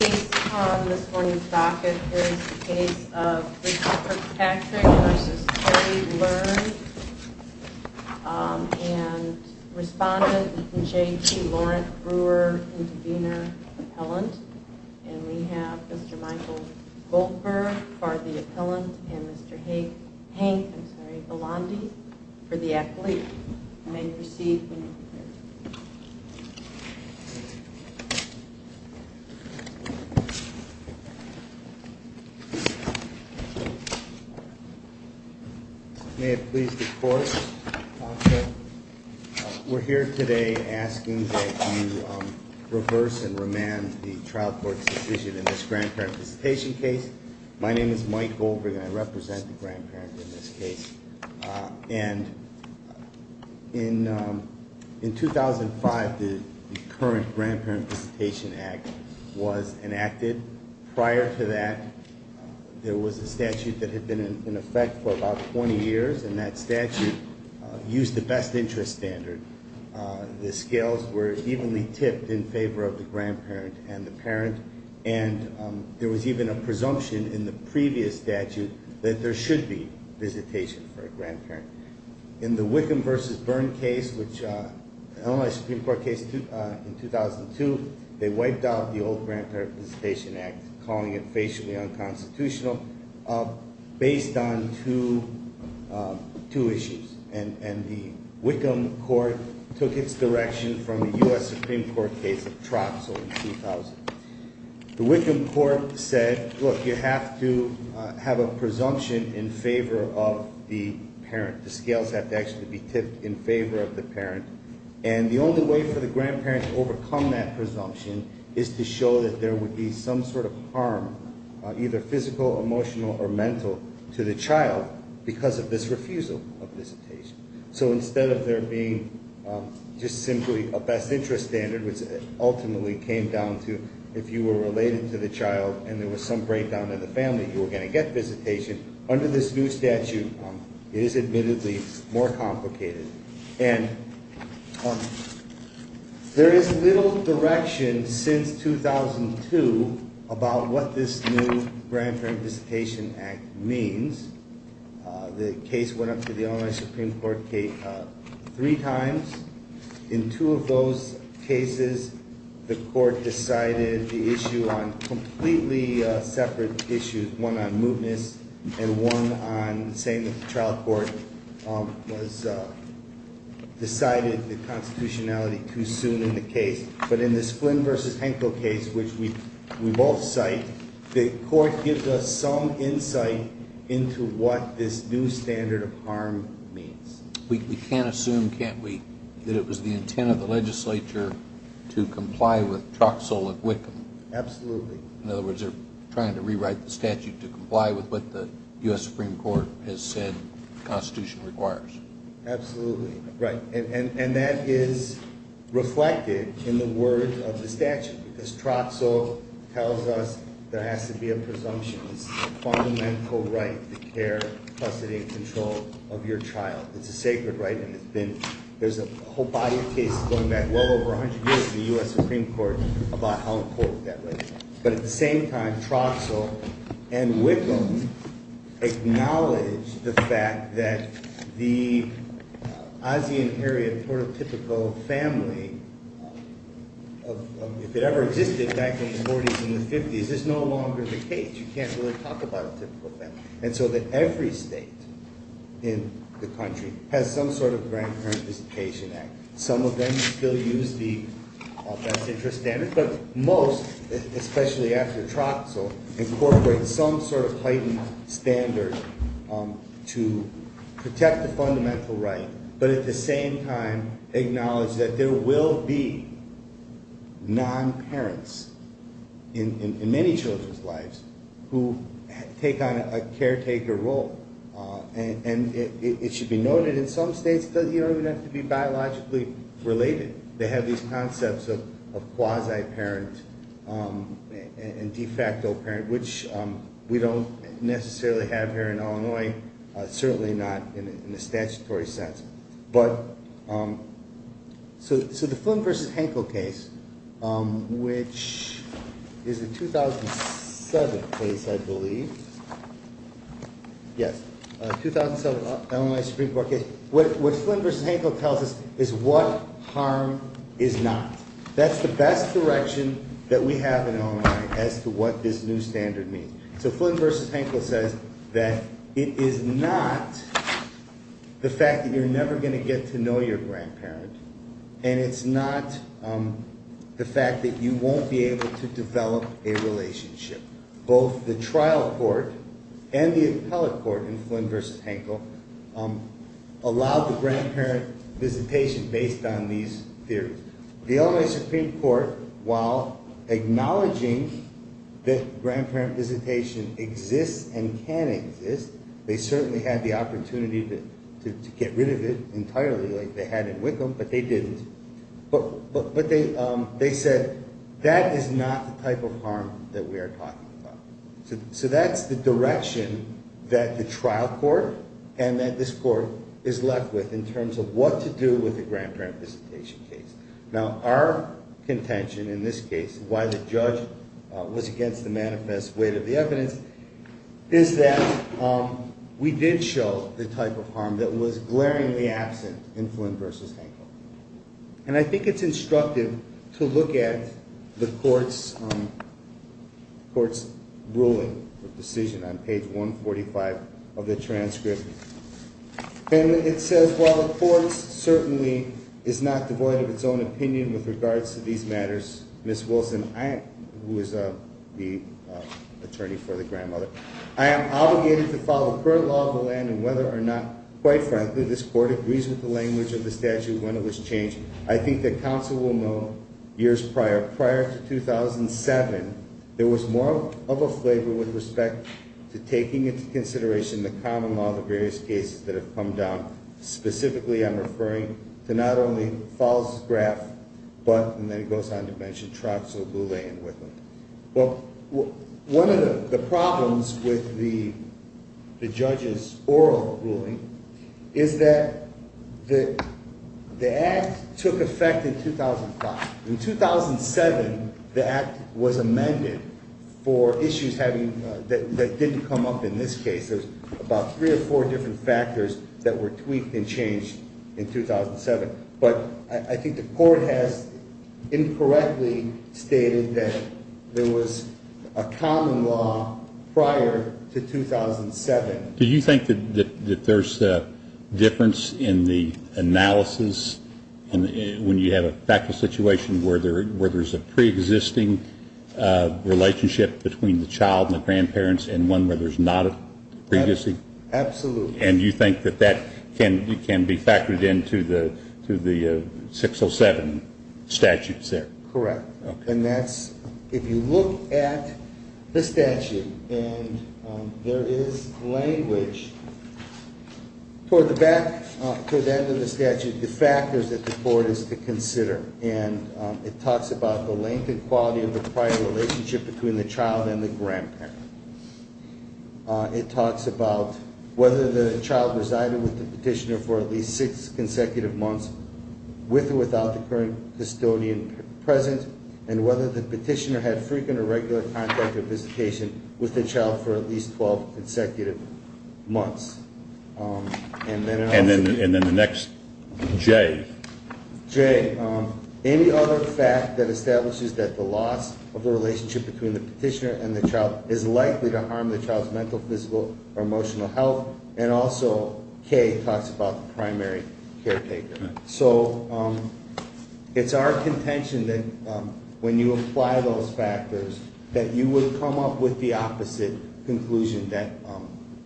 Based on this morning's docket, here is the case of Richard Kirkpatrick v. Terry Learned, and respondent J.T. Laurent Brewer, intervener, appellant. And we have Mr. Michael Goldberg for the appellant, and Mr. Hank, I'm sorry, Balandi for the accolade. You may proceed. May it please the court. We're here today asking that you reverse and remand the trial court's decision in this grandparent participation case. My name is Mike Goldberg, and I represent the grandparent in this case. And in 2005, the current Grandparent Participation Act was enacted. Prior to that, there was a statute that had been in effect for about 20 years, and that statute used the best interest standard. The scales were evenly tipped in favor of the grandparent and the parent. And there was even a presumption in the previous statute that there should be visitation for a grandparent. In the Wickham v. Byrne case, which was an Illinois Supreme Court case in 2002, they wiped out the old Grandparent Participation Act, calling it facially unconstitutional, based on two issues. And the Wickham court took its direction from the U.S. Supreme Court case of Troxel in 2000. The Wickham court said, look, you have to have a presumption in favor of the parent. The scales have to actually be tipped in favor of the parent. And the only way for the grandparent to overcome that presumption is to show that there would be some sort of harm, either physical, emotional, or mental, to the child because of this refusal of visitation. So instead of there being just simply a best interest standard, which ultimately came down to if you were related to the child and there was some breakdown in the family, you were going to get visitation, under this new statute, it is admittedly more complicated. And there is little direction since 2002 about what this new Grandparent Visitation Act means. The case went up to the Illinois Supreme Court three times. In two of those cases, the court decided the issue on completely separate issues, one on mootness and one on saying that the trial court decided the constitutionality too soon in the case. But in this Flynn v. Henkel case, which we both cite, the court gives us some insight into what this new standard of harm means. We can't assume, can't we, that it was the intent of the legislature to comply with Troxell and Whitcomb? Absolutely. In other words, they're trying to rewrite the statute to comply with what the U.S. Supreme Court has said the constitution requires. Absolutely. Right. And that is reflected in the words of the statute. Because Troxell tells us there has to be a presumption. It's a fundamental right to care, custody, and control of your child. It's a sacred right and there's a whole body of cases going back well over 100 years in the U.S. Supreme Court about how important that right is. But at the same time, Troxell and Whitcomb acknowledge the fact that the ASEAN-area prototypical family, if it ever existed back in the 40s and the 50s, is no longer the case. You can't really talk about a typical family. And so that every state in the country has some sort of Grand Parent Visitation Act. Some of them still use the best interest standard, but most, especially after Troxell, incorporate some sort of heightened standard to protect the fundamental right, but at the same time acknowledge that there will be non-parents in many children's lives who take on a caretaker role. And it should be noted in some states that you don't even have to be biologically related. They have these concepts of quasi-parent and de facto parent, which we don't necessarily have here in Illinois, certainly not in a statutory sense. But so the Flynn v. Hankel case, which is a 2007 case, I believe, yes, 2007 Illinois Supreme Court case, what Flynn v. Hankel tells us is what harm is not. That's the best direction that we have in Illinois as to what this new standard means. So Flynn v. Hankel says that it is not the fact that you're never going to get to know your grandparent, and it's not the fact that you won't be able to develop a relationship. Both the trial court and the appellate court in Flynn v. Hankel allowed the grandparent visitation based on these theories. The Illinois Supreme Court, while acknowledging that grandparent visitation exists and can exist, they certainly had the opportunity to get rid of it entirely like they had in Wickham, but they didn't. But they said that is not the type of harm that we are talking about. So that's the direction that the trial court and that this court is left with in terms of what to do with the grandparent visitation case. Now, our contention in this case, why the judge was against the manifest weight of the evidence, is that we did show the type of harm that was glaringly absent in Flynn v. Hankel. And I think it's instructive to look at the court's ruling or decision on page 145 of the transcript. And it says, while the court certainly is not devoid of its own opinion with regards to these matters, Ms. Wilson, who is the attorney for the grandmother, I am obligated to follow the current law of the land and whether or not, quite frankly, this court agrees with the language of the statute when it was changed. I think that counsel will know years prior, prior to 2007, there was more of a flavor with respect to taking into consideration the common law of the various cases that have come down. Specifically, I'm referring to not only Falls' graft, but, and then it goes on to mention Troxel, Bouley, and Wickham. Well, one of the problems with the judge's oral ruling is that the act took effect in 2005. In 2007, the act was amended for issues that didn't come up in this case. There's about three or four different factors that were tweaked and changed in 2007. But I think the court has incorrectly stated that there was a common law prior to 2007. Do you think that there's a difference in the analysis when you have a factual situation where there's a preexisting relationship between the child and the grandparents and one where there's not a preexisting? Absolutely. And you think that that can be factored into the 607 statutes there? Correct. Okay. And that's, if you look at the statute and there is language, toward the back, toward the end of the statute, the factors that the court is to consider. And it talks about the length and quality of the prior relationship between the child and the grandparent. It talks about whether the child resided with the petitioner for at least six consecutive months, with or without the current custodian present, and whether the petitioner had frequent or regular contact or visitation with the child for at least 12 consecutive months. And then the next J. J. Any other fact that establishes that the loss of the relationship between the petitioner and the child is likely to harm the child's mental, physical, or emotional health? And also K talks about the primary caretaker. So it's our contention that when you apply those factors, that you would come up with the opposite conclusion that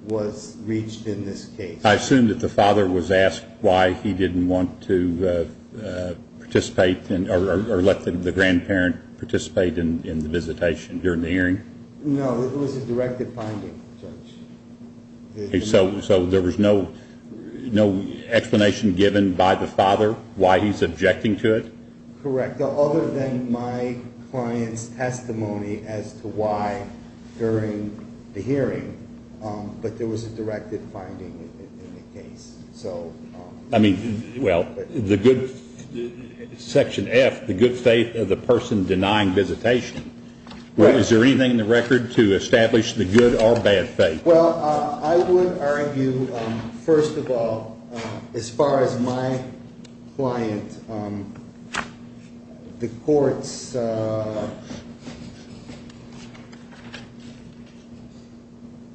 was reached in this case. I assume that the father was asked why he didn't want to participate or let the grandparent participate in the visitation during the hearing? No, it was a directed finding, Judge. So there was no explanation given by the father why he's objecting to it? Correct, other than my client's testimony as to why during the hearing. But there was a directed finding in the case. I mean, well, Section F, the good faith of the person denying visitation. Is there anything in the record to establish the good or bad faith? Well, I would argue, first of all, as far as my client, the court's.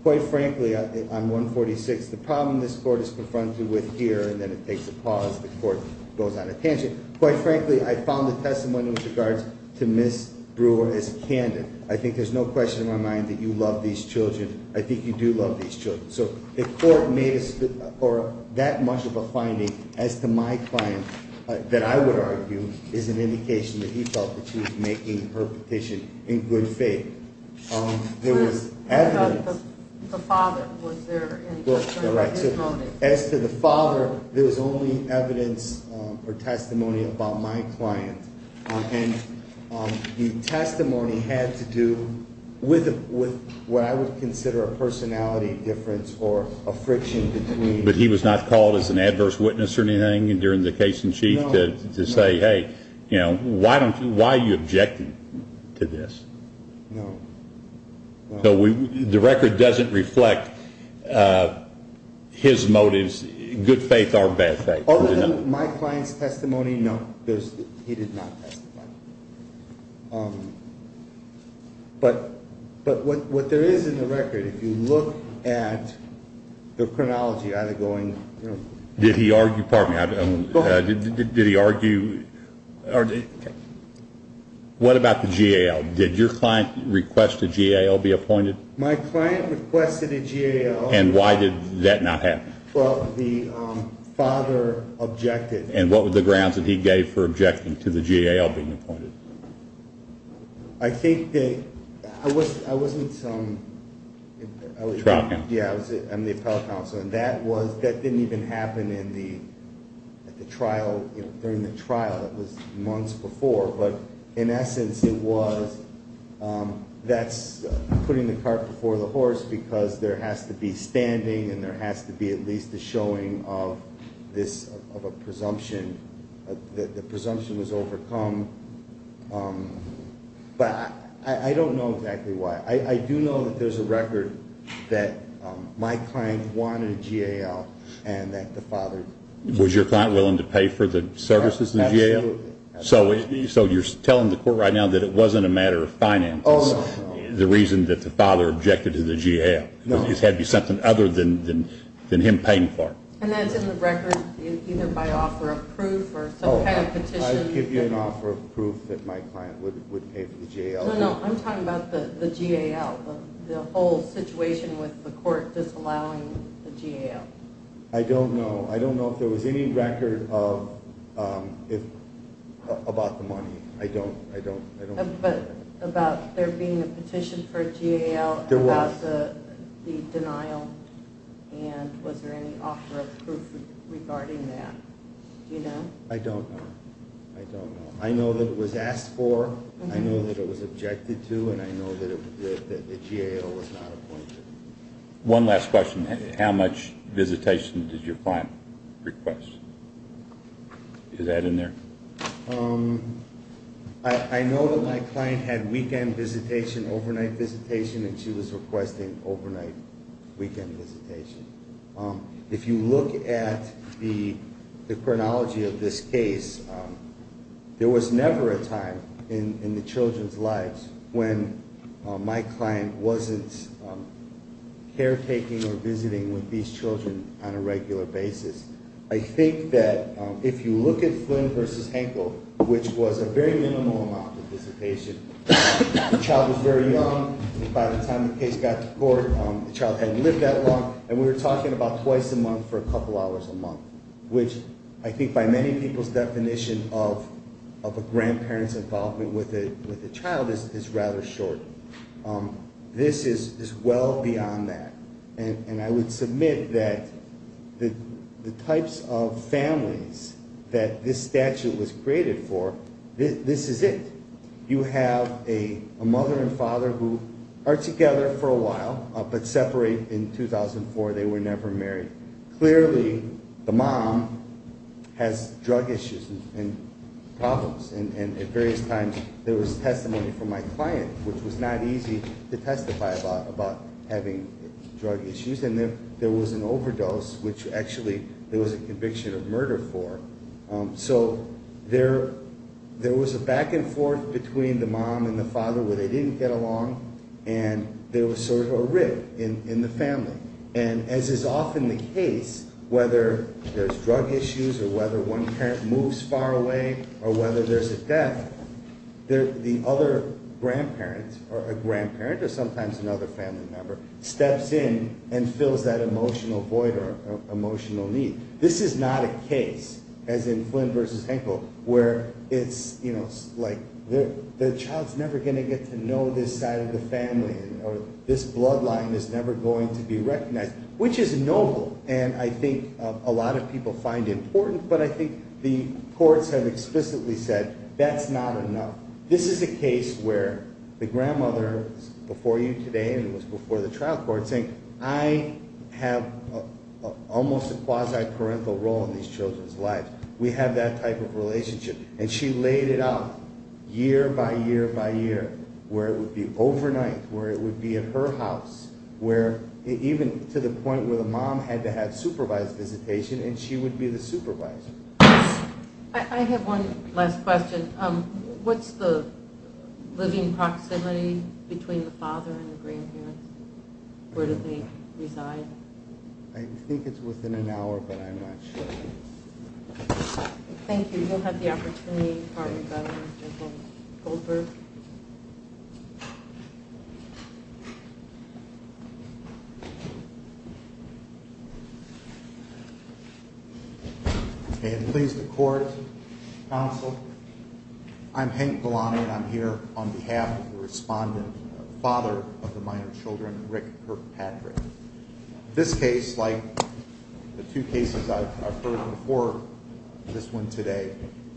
Quite frankly, I'm 146. The problem this court is confronted with here, and then it takes a pause. The court goes on a tangent. Quite frankly, I found the testimony in regards to Miss Brewer is candid. I think there's no question in my mind that you love these children. I think you do love these children. So the court made that much of a finding as to my client that I would argue is an indication that he felt that she was making her petition in good faith. There was evidence. What about the father? Was there any testimony? As to the father, there was only evidence or testimony about my client. And the testimony had to do with what I would consider a personality difference or a friction between. But he was not called as an adverse witness or anything during the case in chief to say, hey, why are you objecting to this? No. So the record doesn't reflect his motives, good faith or bad faith. Other than my client's testimony, no, he did not testify. But what there is in the record, if you look at the chronology, either going. Did he argue? Pardon me. Did he argue? What about the GAL? Did your client request a GAL be appointed? My client requested a GAL. And why did that not happen? Well, the father objected. And what were the grounds that he gave for objecting to the GAL being appointed? I think that I wasn't the appellate counsel. And that didn't even happen during the trial. It was months before. But in essence it was that's putting the cart before the horse because there has to be standing and there has to be at least a showing of a presumption. The presumption was overcome. But I don't know exactly why. I do know that there's a record that my client wanted a GAL and that the father. Was your client willing to pay for the services in the GAL? Absolutely. So you're telling the court right now that it wasn't a matter of finances, the reason that the father objected to the GAL. It had to be something other than him paying for it. And that's in the record either by offer of proof or some kind of petition. I'd give you an offer of proof that my client would pay for the GAL. No, no, I'm talking about the GAL, the whole situation with the court disallowing the GAL. I don't know. I don't know if there was any record about the money. I don't. But about there being a petition for a GAL about the denial and was there any offer of proof regarding that? Do you know? I don't know. I don't know. I know that it was asked for. I know that it was objected to, and I know that the GAL was not appointed. One last question. How much visitation did your client request? Is that in there? I know that my client had weekend visitation, overnight visitation, and she was requesting overnight weekend visitation. If you look at the chronology of this case, there was never a time in the children's lives when my client wasn't caretaking or visiting with these children on a regular basis. I think that if you look at Flynn v. Henkel, which was a very minimal amount of visitation, the child was very young. By the time the case got to court, the child hadn't lived that long, and we were talking about twice a month for a couple hours a month, which I think by many people's definition of a grandparent's involvement with a child is rather short. This is well beyond that, and I would submit that the types of families that this statute was created for, this is it. You have a mother and father who are together for a while but separate in 2004. They were never married. Clearly, the mom has drug issues and problems, and at various times there was testimony from my client, which was not easy to testify about having drug issues, and there was an overdose, which actually there was a conviction of murder for. So there was a back and forth between the mom and the father where they didn't get along, and there was sort of a rift in the family. And as is often the case, whether there's drug issues or whether one parent moves far away or whether there's a death, the other grandparent or a grandparent or sometimes another family member steps in and fills that emotional void or emotional need. This is not a case, as in Flynn v. Henkel, where it's like the child's never going to get to know this side of the family or this bloodline is never going to be recognized, which is noble, and I think a lot of people find important, but I think the courts have explicitly said that's not enough. This is a case where the grandmother is before you today and was before the trial court saying, I have almost a quasi-parental role in these children's lives. We have that type of relationship. And she laid it out year by year by year where it would be overnight, where it would be at her house, where even to the point where the mom had to have supervised visitation and she would be the supervisor. I have one last question. What's the living proximity between the father and the grandparents? Where do they reside? I think it's within an hour, but I'm not sure. Thank you. We will have the opportunity to partner with Mr. Goldberg. Please, the court, counsel. I'm Hank Golani, and I'm here on behalf of the respondent, the father of the minor children, Rick Kirkpatrick. This case, like the two cases I've heard before this one today,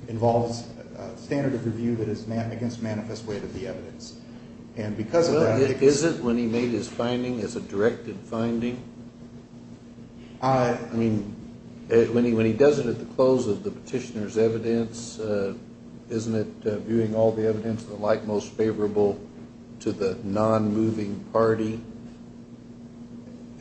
involves a standard of review that is against manifest way to the evidence. Is it when he made his finding as a directed finding? When he does it at the close of the petitioner's evidence, isn't it viewing all the evidence of the like most favorable to the non-moving party?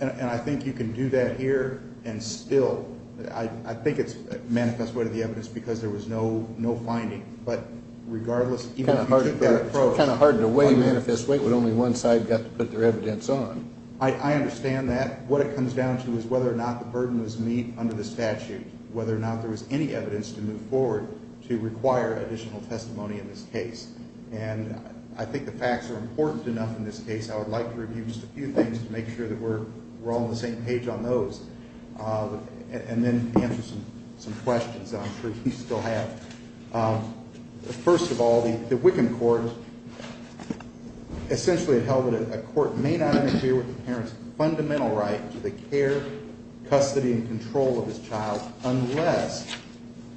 And I think you can do that here and still. I think it's manifest way to the evidence because there was no finding. But regardless, even if you take that approach. It's kind of hard to weigh manifest way, but only one side got to put their evidence on. I understand that. What it comes down to is whether or not the burden was met under the statute, whether or not there was any evidence to move forward to require additional testimony in this case. And I think the facts are important enough in this case. I would like to review just a few things to make sure that we're all on the same page on those. And then answer some questions that I'm sure you still have. First of all, the Wickham court essentially held that a court may not interfere with the parent's fundamental right to the care, custody, and control of his child unless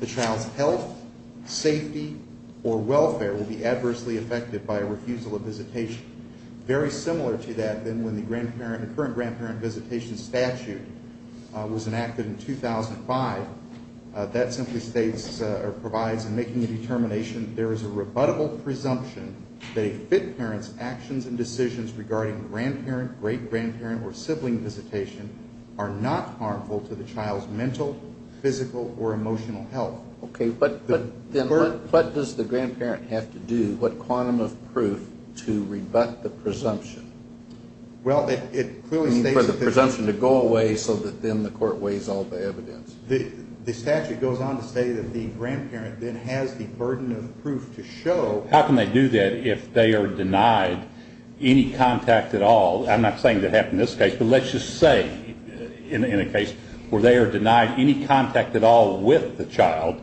the child's health, safety, or welfare will be adversely affected by a refusal of visitation. Very similar to that, then, when the current grandparent visitation statute was enacted in 2005. That simply states or provides in making a determination there is a rebuttable presumption that a fit parent's actions and decisions regarding grandparent, great grandparent, or sibling visitation are not harmful to the child's mental, physical, or emotional health. Okay. But then what does the grandparent have to do, what quantum of proof, to rebut the presumption? Well, it clearly states that the presumption to go away so that then the court weighs all the evidence. The statute goes on to say that the grandparent then has the burden of proof to show. How can they do that if they are denied any contact at all? I'm not saying that happened in this case, but let's just say in a case where they are denied any contact at all with the child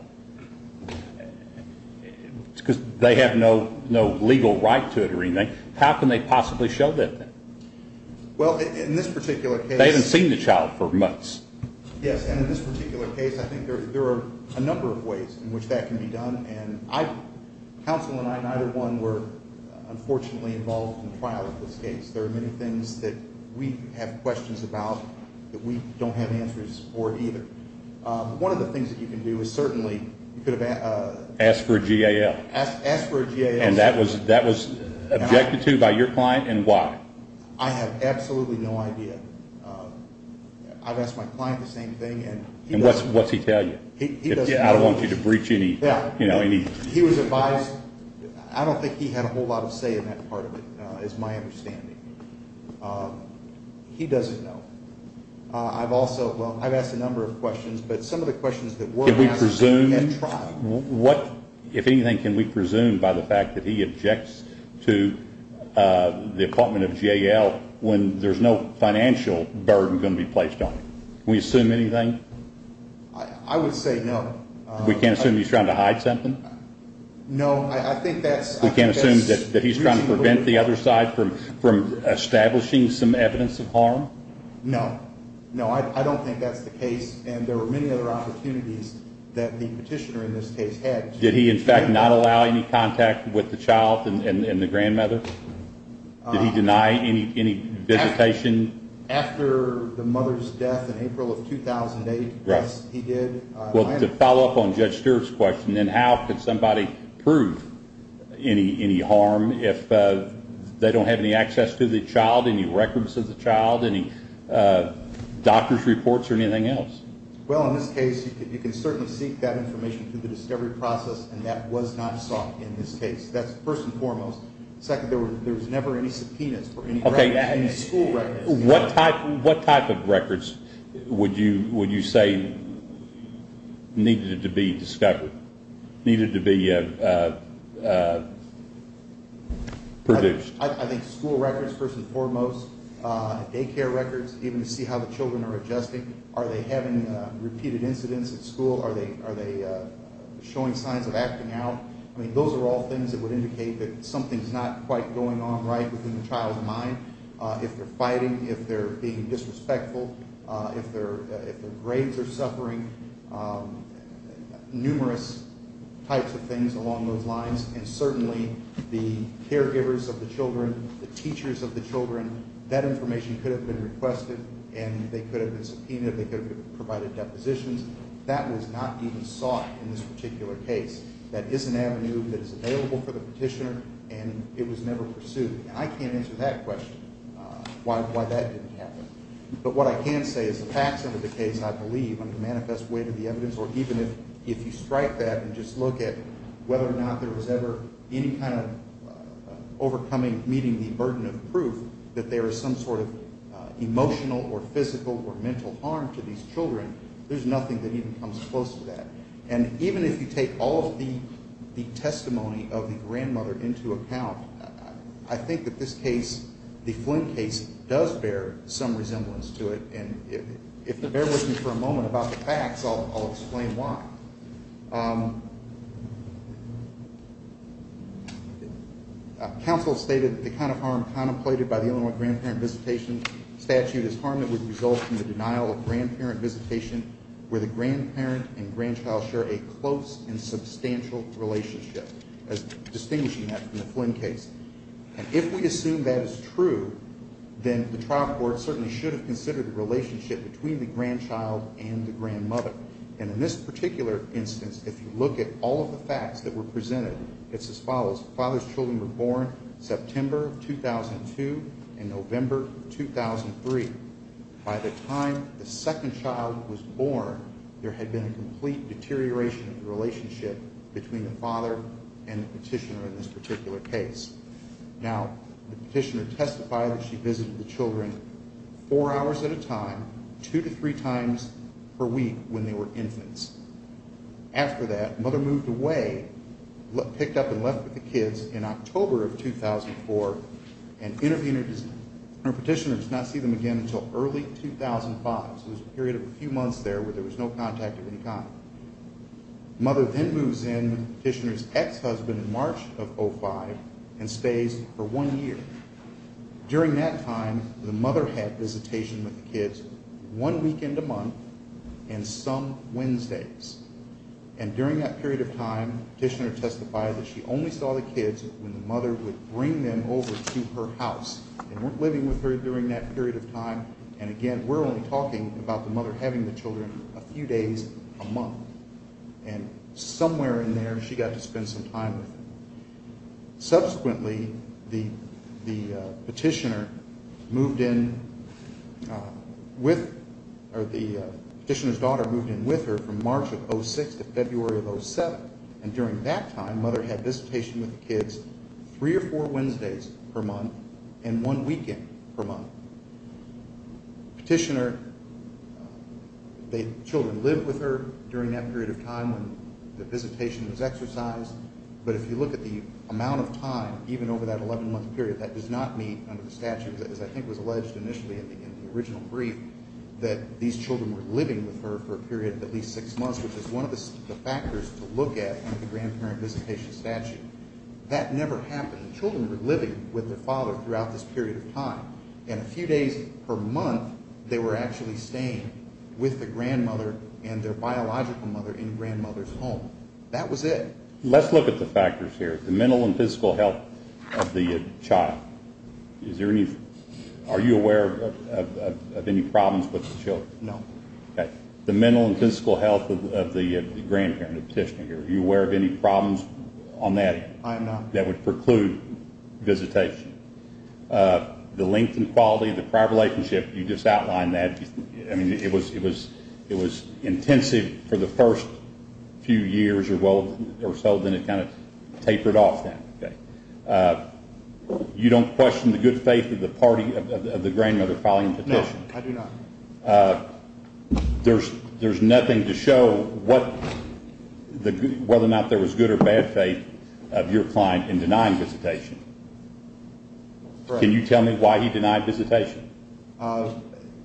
because they have no legal right to it or anything. How can they possibly show that then? Well, in this particular case. They haven't seen the child for months. Yes, and in this particular case, I think there are a number of ways in which that can be done. Counsel and I, neither one, were unfortunately involved in the trial of this case. There are many things that we have questions about that we don't have answers for either. One of the things that you can do is certainly you could have asked for a GAL. Asked for a GAL. And that was objected to by your client, and why? I have absolutely no idea. I've asked my client the same thing. And what's he tell you? I don't want you to breach any. He was advised. I don't think he had a whole lot of say in that part of it is my understanding. He doesn't know. I've asked a number of questions, but some of the questions that were asked at trial. If anything, can we presume by the fact that he objects to the appointment of GAL when there's no financial burden going to be placed on him? Can we assume anything? I would say no. We can't assume he's trying to hide something? No, I think that's. We can't assume that he's trying to prevent the other side from establishing some evidence of harm? No. No, I don't think that's the case. And there were many other opportunities that the petitioner in this case had. Did he, in fact, not allow any contact with the child and the grandmother? Did he deny any visitation? After the mother's death in April of 2008, yes, he did. Well, to follow up on Judge Stewart's question, then how could somebody prove any harm if they don't have any access to the child, any records of the child, any doctor's reports or anything else? Well, in this case, you can certainly seek that information through the discovery process, and that was not sought in this case. That's first and foremost. Second, there was never any subpoenas for any records, any school records. What type of records would you say needed to be discovered, needed to be produced? I think school records first and foremost, daycare records, even to see how the children are adjusting. Are they having repeated incidents at school? Are they showing signs of acting out? I mean, those are all things that would indicate that something's not quite going on right within the child's mind. If they're fighting, if they're being disrespectful, if their grades are suffering, numerous types of things along those lines, and certainly the caregivers of the children, the teachers of the children, that information could have been requested and they could have been subpoenaed, they could have provided depositions. That was not even sought in this particular case. That is an avenue that is available for the petitioner, and it was never pursued. And I can't answer that question, why that didn't happen. But what I can say is the facts of the case, I believe, under the manifest weight of the evidence, or even if you strike that and just look at whether or not there was ever any kind of overcoming, meeting the burden of proof that there is some sort of emotional or physical or mental harm to these children, there's nothing that even comes close to that. And even if you take all of the testimony of the grandmother into account, I think that this case, the Flynn case, does bear some resemblance to it. And if you bear with me for a moment about the facts, I'll explain why. Counsel stated the kind of harm contemplated by the Illinois Grandparent Visitation Statute is harm that would result from the denial of grandparent visitation where the grandparent and grandchild share a close and substantial relationship, distinguishing that from the Flynn case. And if we assume that is true, then the trial court certainly should have considered the relationship between the grandchild and the grandmother. And in this particular instance, if you look at all of the facts that were presented, it's as follows. The father's children were born September of 2002 and November of 2003. By the time the second child was born, there had been a complete deterioration of the relationship between the father and the petitioner in this particular case. Now, the petitioner testified that she visited the children four hours at a time, two to three times per week when they were infants. After that, mother moved away, picked up and left with the kids in October of 2004 and petitioners did not see them again until early 2005. So there was a period of a few months there where there was no contact of any kind. Mother then moves in with petitioner's ex-husband in March of 2005 and stays for one year. During that time, the mother had visitation with the kids one weekend a month and some Wednesdays. And during that period of time, petitioner testified that she only saw the kids when the mother would bring them over to her house and weren't living with her during that period of time. And again, we're only talking about the mother having the children a few days a month. And somewhere in there, she got to spend some time with them. Subsequently, the petitioner moved in with or the petitioner's daughter moved in with her from March of 2006 to February of 2007. And during that time, mother had visitation with the kids three or four Wednesdays per month and one weekend per month. Petitioner, the children lived with her during that period of time when the visitation was exercised. But if you look at the amount of time, even over that 11-month period, that does not meet under the statute, as I think was alleged initially in the original brief, that these children were living with her for a period of at least six months, which is one of the factors to look at in the grandparent visitation statute. That never happened. The children were living with their father throughout this period of time. And a few days per month, they were actually staying with the grandmother and their biological mother in grandmother's home. That was it. Let's look at the factors here, the mental and physical health of the child. Are you aware of any problems with the children? No. Okay. The mental and physical health of the grandparent, the petitioner. Are you aware of any problems on that? I am not. That would preclude visitation. The length and quality of the prior relationship, you just outlined that. I mean, it was intensive for the first few years or so, then it kind of tapered off then. Okay. You don't question the good faith of the party of the grandmother filing the petition? I do not. There's nothing to show whether or not there was good or bad faith of your client in denying visitation. Can you tell me why he denied visitation?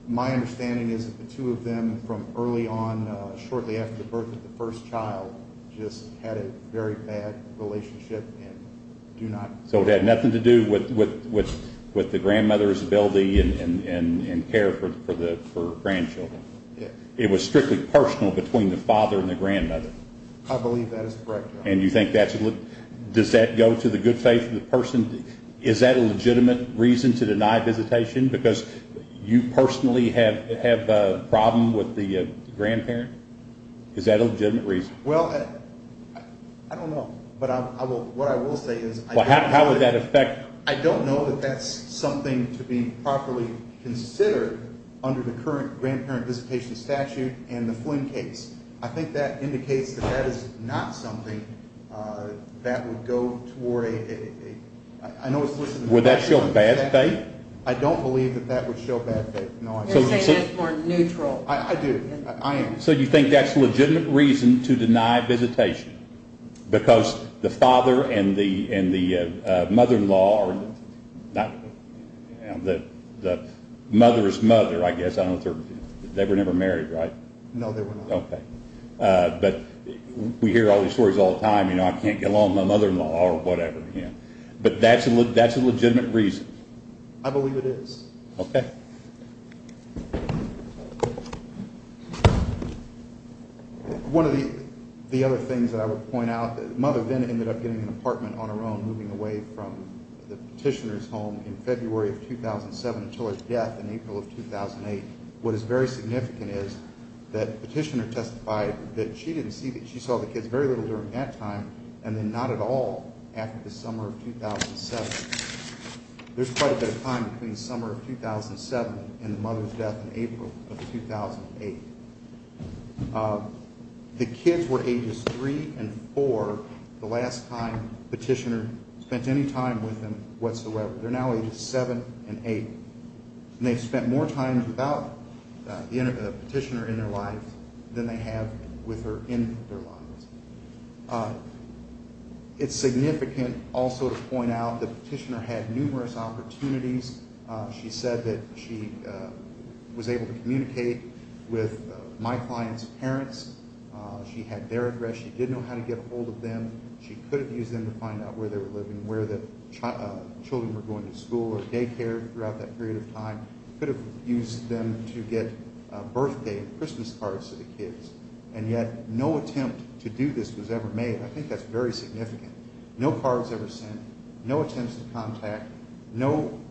My understanding is that the two of them from early on, shortly after the birth of the first child, just had a very bad relationship and do not. So it had nothing to do with the grandmother's ability and care for the grandchildren. It was strictly personal between the father and the grandmother. I believe that is correct. And you think that's – does that go to the good faith of the person? Is that a legitimate reason to deny visitation because you personally have a problem with the grandparent? Is that a legitimate reason? Well, I don't know. But what I will say is – How would that affect – I don't know that that's something to be properly considered under the current grandparent visitation statute and the Flynn case. I think that indicates that that is not something that would go toward a – I know it's – Would that show bad faith? I don't believe that that would show bad faith. You're saying that's more neutral. I do. I am. So you think that's a legitimate reason to deny visitation because the father and the mother-in-law – the mother's mother, I guess. They were never married, right? No, they were not. Okay. But we hear all these stories all the time. I can't get along with my mother-in-law or whatever. But that's a legitimate reason? I believe it is. Okay. One of the other things that I would point out, the mother then ended up getting an apartment on her own, moving away from the petitioner's home in February of 2007 until her death in April of 2008. What is very significant is that the petitioner testified that she didn't see – she saw the kids very little during that time and then not at all after the summer of 2007. There's quite a bit of time between the summer of 2007 and the mother's death in April of 2008. The kids were ages 3 and 4 the last time the petitioner spent any time with them whatsoever. They're now ages 7 and 8. And they've spent more time without the petitioner in their lives than they have with her in their lives. It's significant also to point out the petitioner had numerous opportunities. She said that she was able to communicate with my client's parents. She had their address. She did know how to get a hold of them. She could have used them to find out where they were living, where the children were going to school or daycare throughout that period of time. And yet no attempt to do this was ever made. I think that's very significant. No cards ever sent. No attempts to contact. No –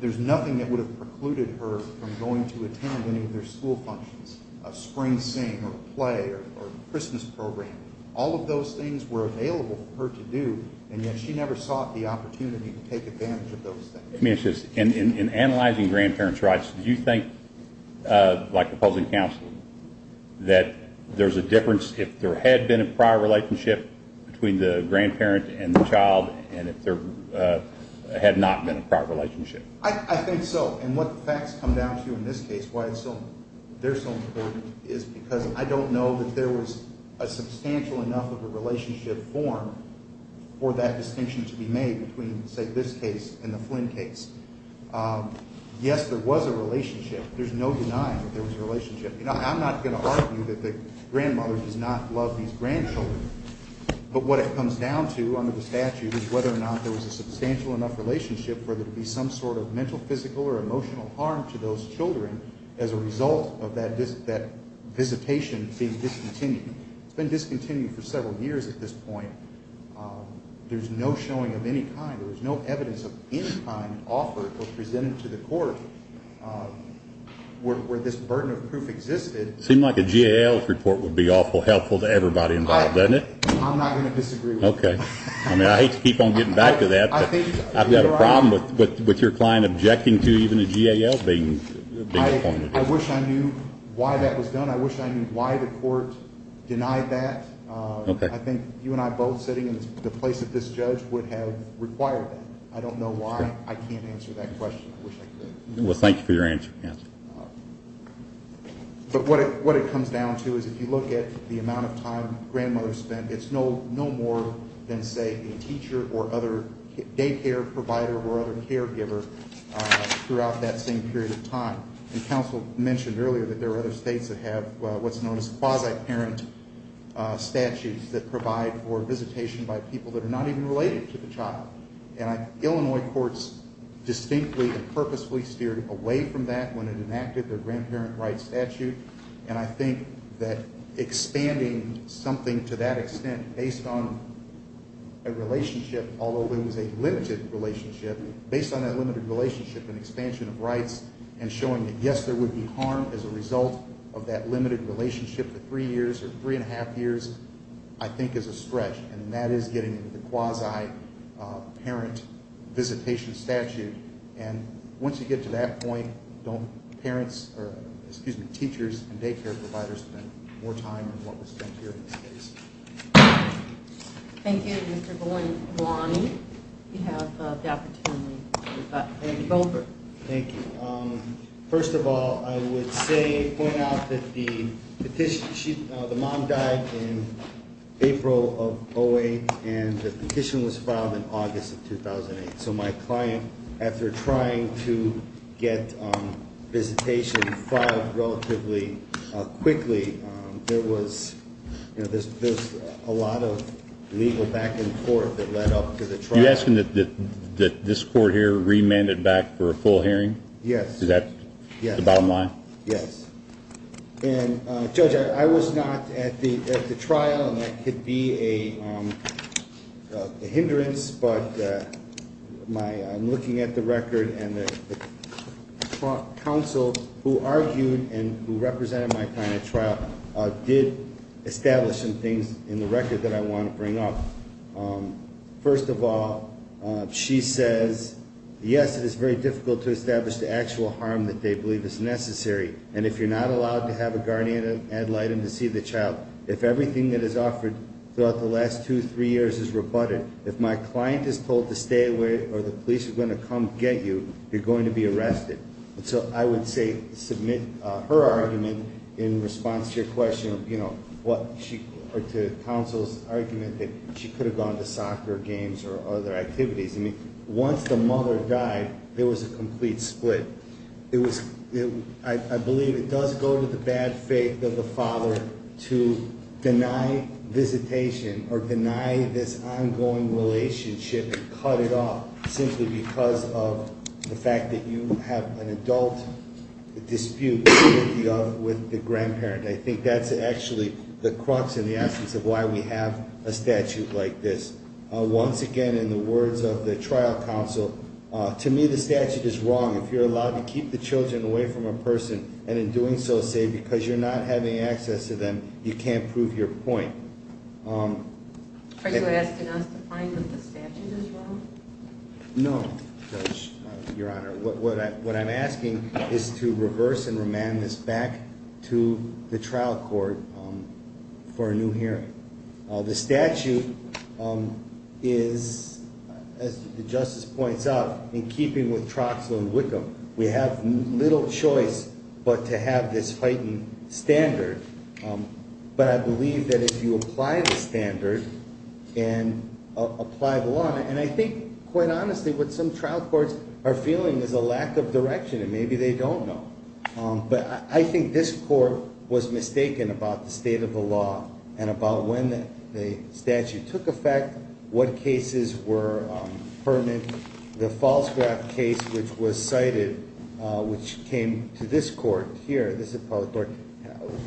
there's nothing that would have precluded her from going to attend any of their school functions, a spring sing or play or Christmas program. All of those things were available for her to do, and yet she never sought the opportunity to take advantage of those things. In analyzing grandparents' rights, do you think, like opposing counsel, that there's a difference if there had been a prior relationship between the grandparent and the child and if there had not been a prior relationship? I think so. And what the facts come down to in this case, why they're so important, is because I don't know that there was a substantial enough of a relationship formed for that distinction to be made between, say, this case and the Flynn case. Yes, there was a relationship. There's no denying that there was a relationship. I'm not going to argue that the grandmother does not love these grandchildren, but what it comes down to under the statute is whether or not there was a substantial enough relationship for there to be some sort of mental, physical, or emotional harm to those children as a result of that visitation being discontinued. It's been discontinued for several years at this point. There's no showing of any kind. There's no evidence of any kind offered or presented to the court where this burden of proof existed. It seems like a GAL's report would be awful helpful to everybody involved, doesn't it? I'm not going to disagree with that. I mean, I hate to keep on getting back to that, but I've got a problem with your client objecting to even a GAL being appointed. I wish I knew why that was done. I wish I knew why the court denied that. I think you and I both sitting in the place of this judge would have required that. I don't know why. I can't answer that question. I wish I could. Well, thank you for your answer. But what it comes down to is if you look at the amount of time grandmothers spend, it's no more than, say, a teacher or other daycare provider or other caregiver throughout that same period of time. And counsel mentioned earlier that there are other states that have what's known as quasi-parent statutes that provide for visitation by people that are not even related to the child. And Illinois courts distinctly and purposefully steered away from that when it enacted the grandparent rights statute. And I think that expanding something to that extent based on a relationship, although it was a limited relationship, based on that limited relationship and expansion of rights and showing that, yes, there would be harm as a result of that limited relationship for three years or three-and-a-half years, I think is a stretch. And that is getting the quasi-parent visitation statute. And once you get to that point, don't parents or, excuse me, teachers and daycare providers spend more time than what was spent here in this case. Thank you. Thank you, Mr. Golombani. You have the opportunity. Mr. Goldberg. Thank you. First of all, I would say, point out that the petition, the mom died in April of 08, and the petition was filed in August of 2008. So my client, after trying to get visitation filed relatively quickly, there was a lot of legal back and forth that led up to the trial. You're asking that this court here remand it back for a full hearing? Yes. Is that the bottom line? Yes. And, Judge, I was not at the trial, and that could be a hindrance, but I'm looking at the record, and the counsel who argued and who represented my client at trial did establish some things in the record that I want to bring up. First of all, she says, yes, it is very difficult to establish the actual harm that they believe is necessary, and if you're not allowed to have a guardian ad litem to see the child, if everything that is offered throughout the last two, three years is rebutted, if my client is told to stay away or the police are going to come get you, you're going to be arrested. So I would say submit her argument in response to your question, you know, or to counsel's argument that she could have gone to soccer games or other activities. I mean, once the mother died, there was a complete split. I believe it does go to the bad faith of the father to deny visitation or deny this ongoing relationship and cut it off simply because of the fact that you have an adult dispute with the grandparent. I think that's actually the crux and the essence of why we have a statute like this. Once again, in the words of the trial counsel, to me the statute is wrong. If you're allowed to keep the children away from a person and in doing so say because you're not having access to them, you can't prove your point. Are you asking us to find the statute as well? No, Judge, Your Honor. What I'm asking is to reverse and remand this back to the trial court for a new hearing. The statute is, as the Justice points out, in keeping with Troxel and Wickham, we have little choice but to have this heightened standard. But I believe that if you apply the standard and apply the law, and I think quite honestly what some trial courts are feeling is a lack of direction and maybe they don't know. But I think this court was mistaken about the state of the law and about when the statute took effect, what cases were pertinent. The Falsgraf case which was cited, which came to this court here, this appellate court,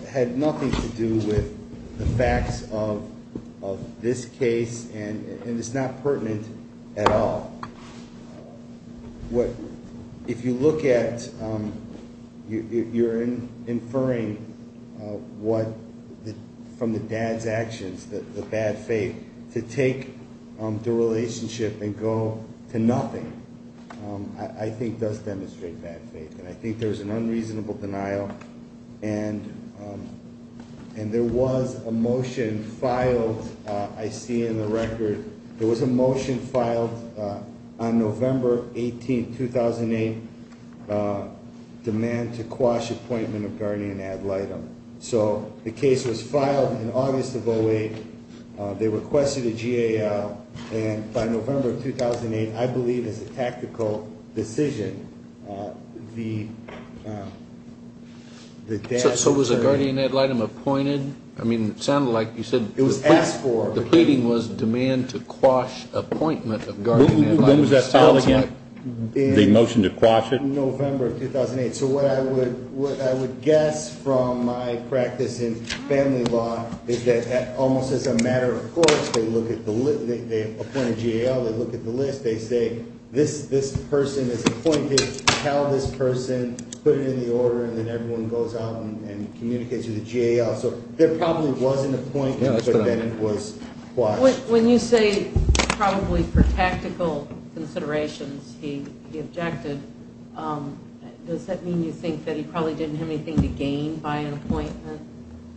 had nothing to do with the facts of this case, and it's not pertinent at all. If you look at, you're inferring from the dad's actions, the bad faith, to take the relationship and go to nothing, I think does demonstrate bad faith. And I think there's an unreasonable denial, and there was a motion filed, I see in the record, there was a motion filed on November 18, 2008, demand to quash appointment of guardian ad litem. So the case was filed in August of 08. They requested a GAL, and by November of 2008, I believe it's a tactical decision. So was the guardian ad litem appointed? I mean, it sounded like you said the pleading was demand to quash appointment of guardian ad litem. When was that filed again, the motion to quash it? In November of 2008. So what I would guess from my practice in family law is that almost as a matter of course, they look at the list, they appoint a GAL, they look at the list, they say this person is appointed, tell this person, put it in the order, and then everyone goes out and communicates with the GAL. So there probably was an appointment, but then it was quashed. When you say probably for tactical considerations, he objected, does that mean you think that he probably didn't have anything to gain by an appointment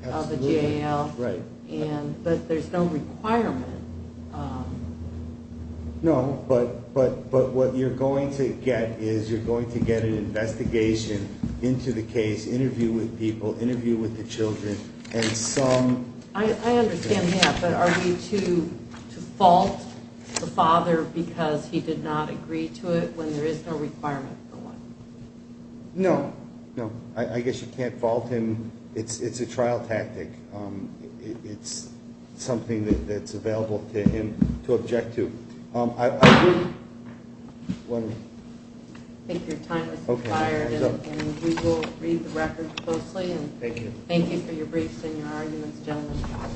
of a GAL? Right. But there's no requirement. No, but what you're going to get is you're going to get an investigation into the case, interview with people, interview with the children. I understand that, but are we to fault the father because he did not agree to it when there is no requirement for one? No, no. I guess you can't fault him. It's a trial tactic. It's something that's available to him to object to. I think your time has expired, and we will read the record closely. Thank you. Thank you for your briefs and your arguments, gentlemen.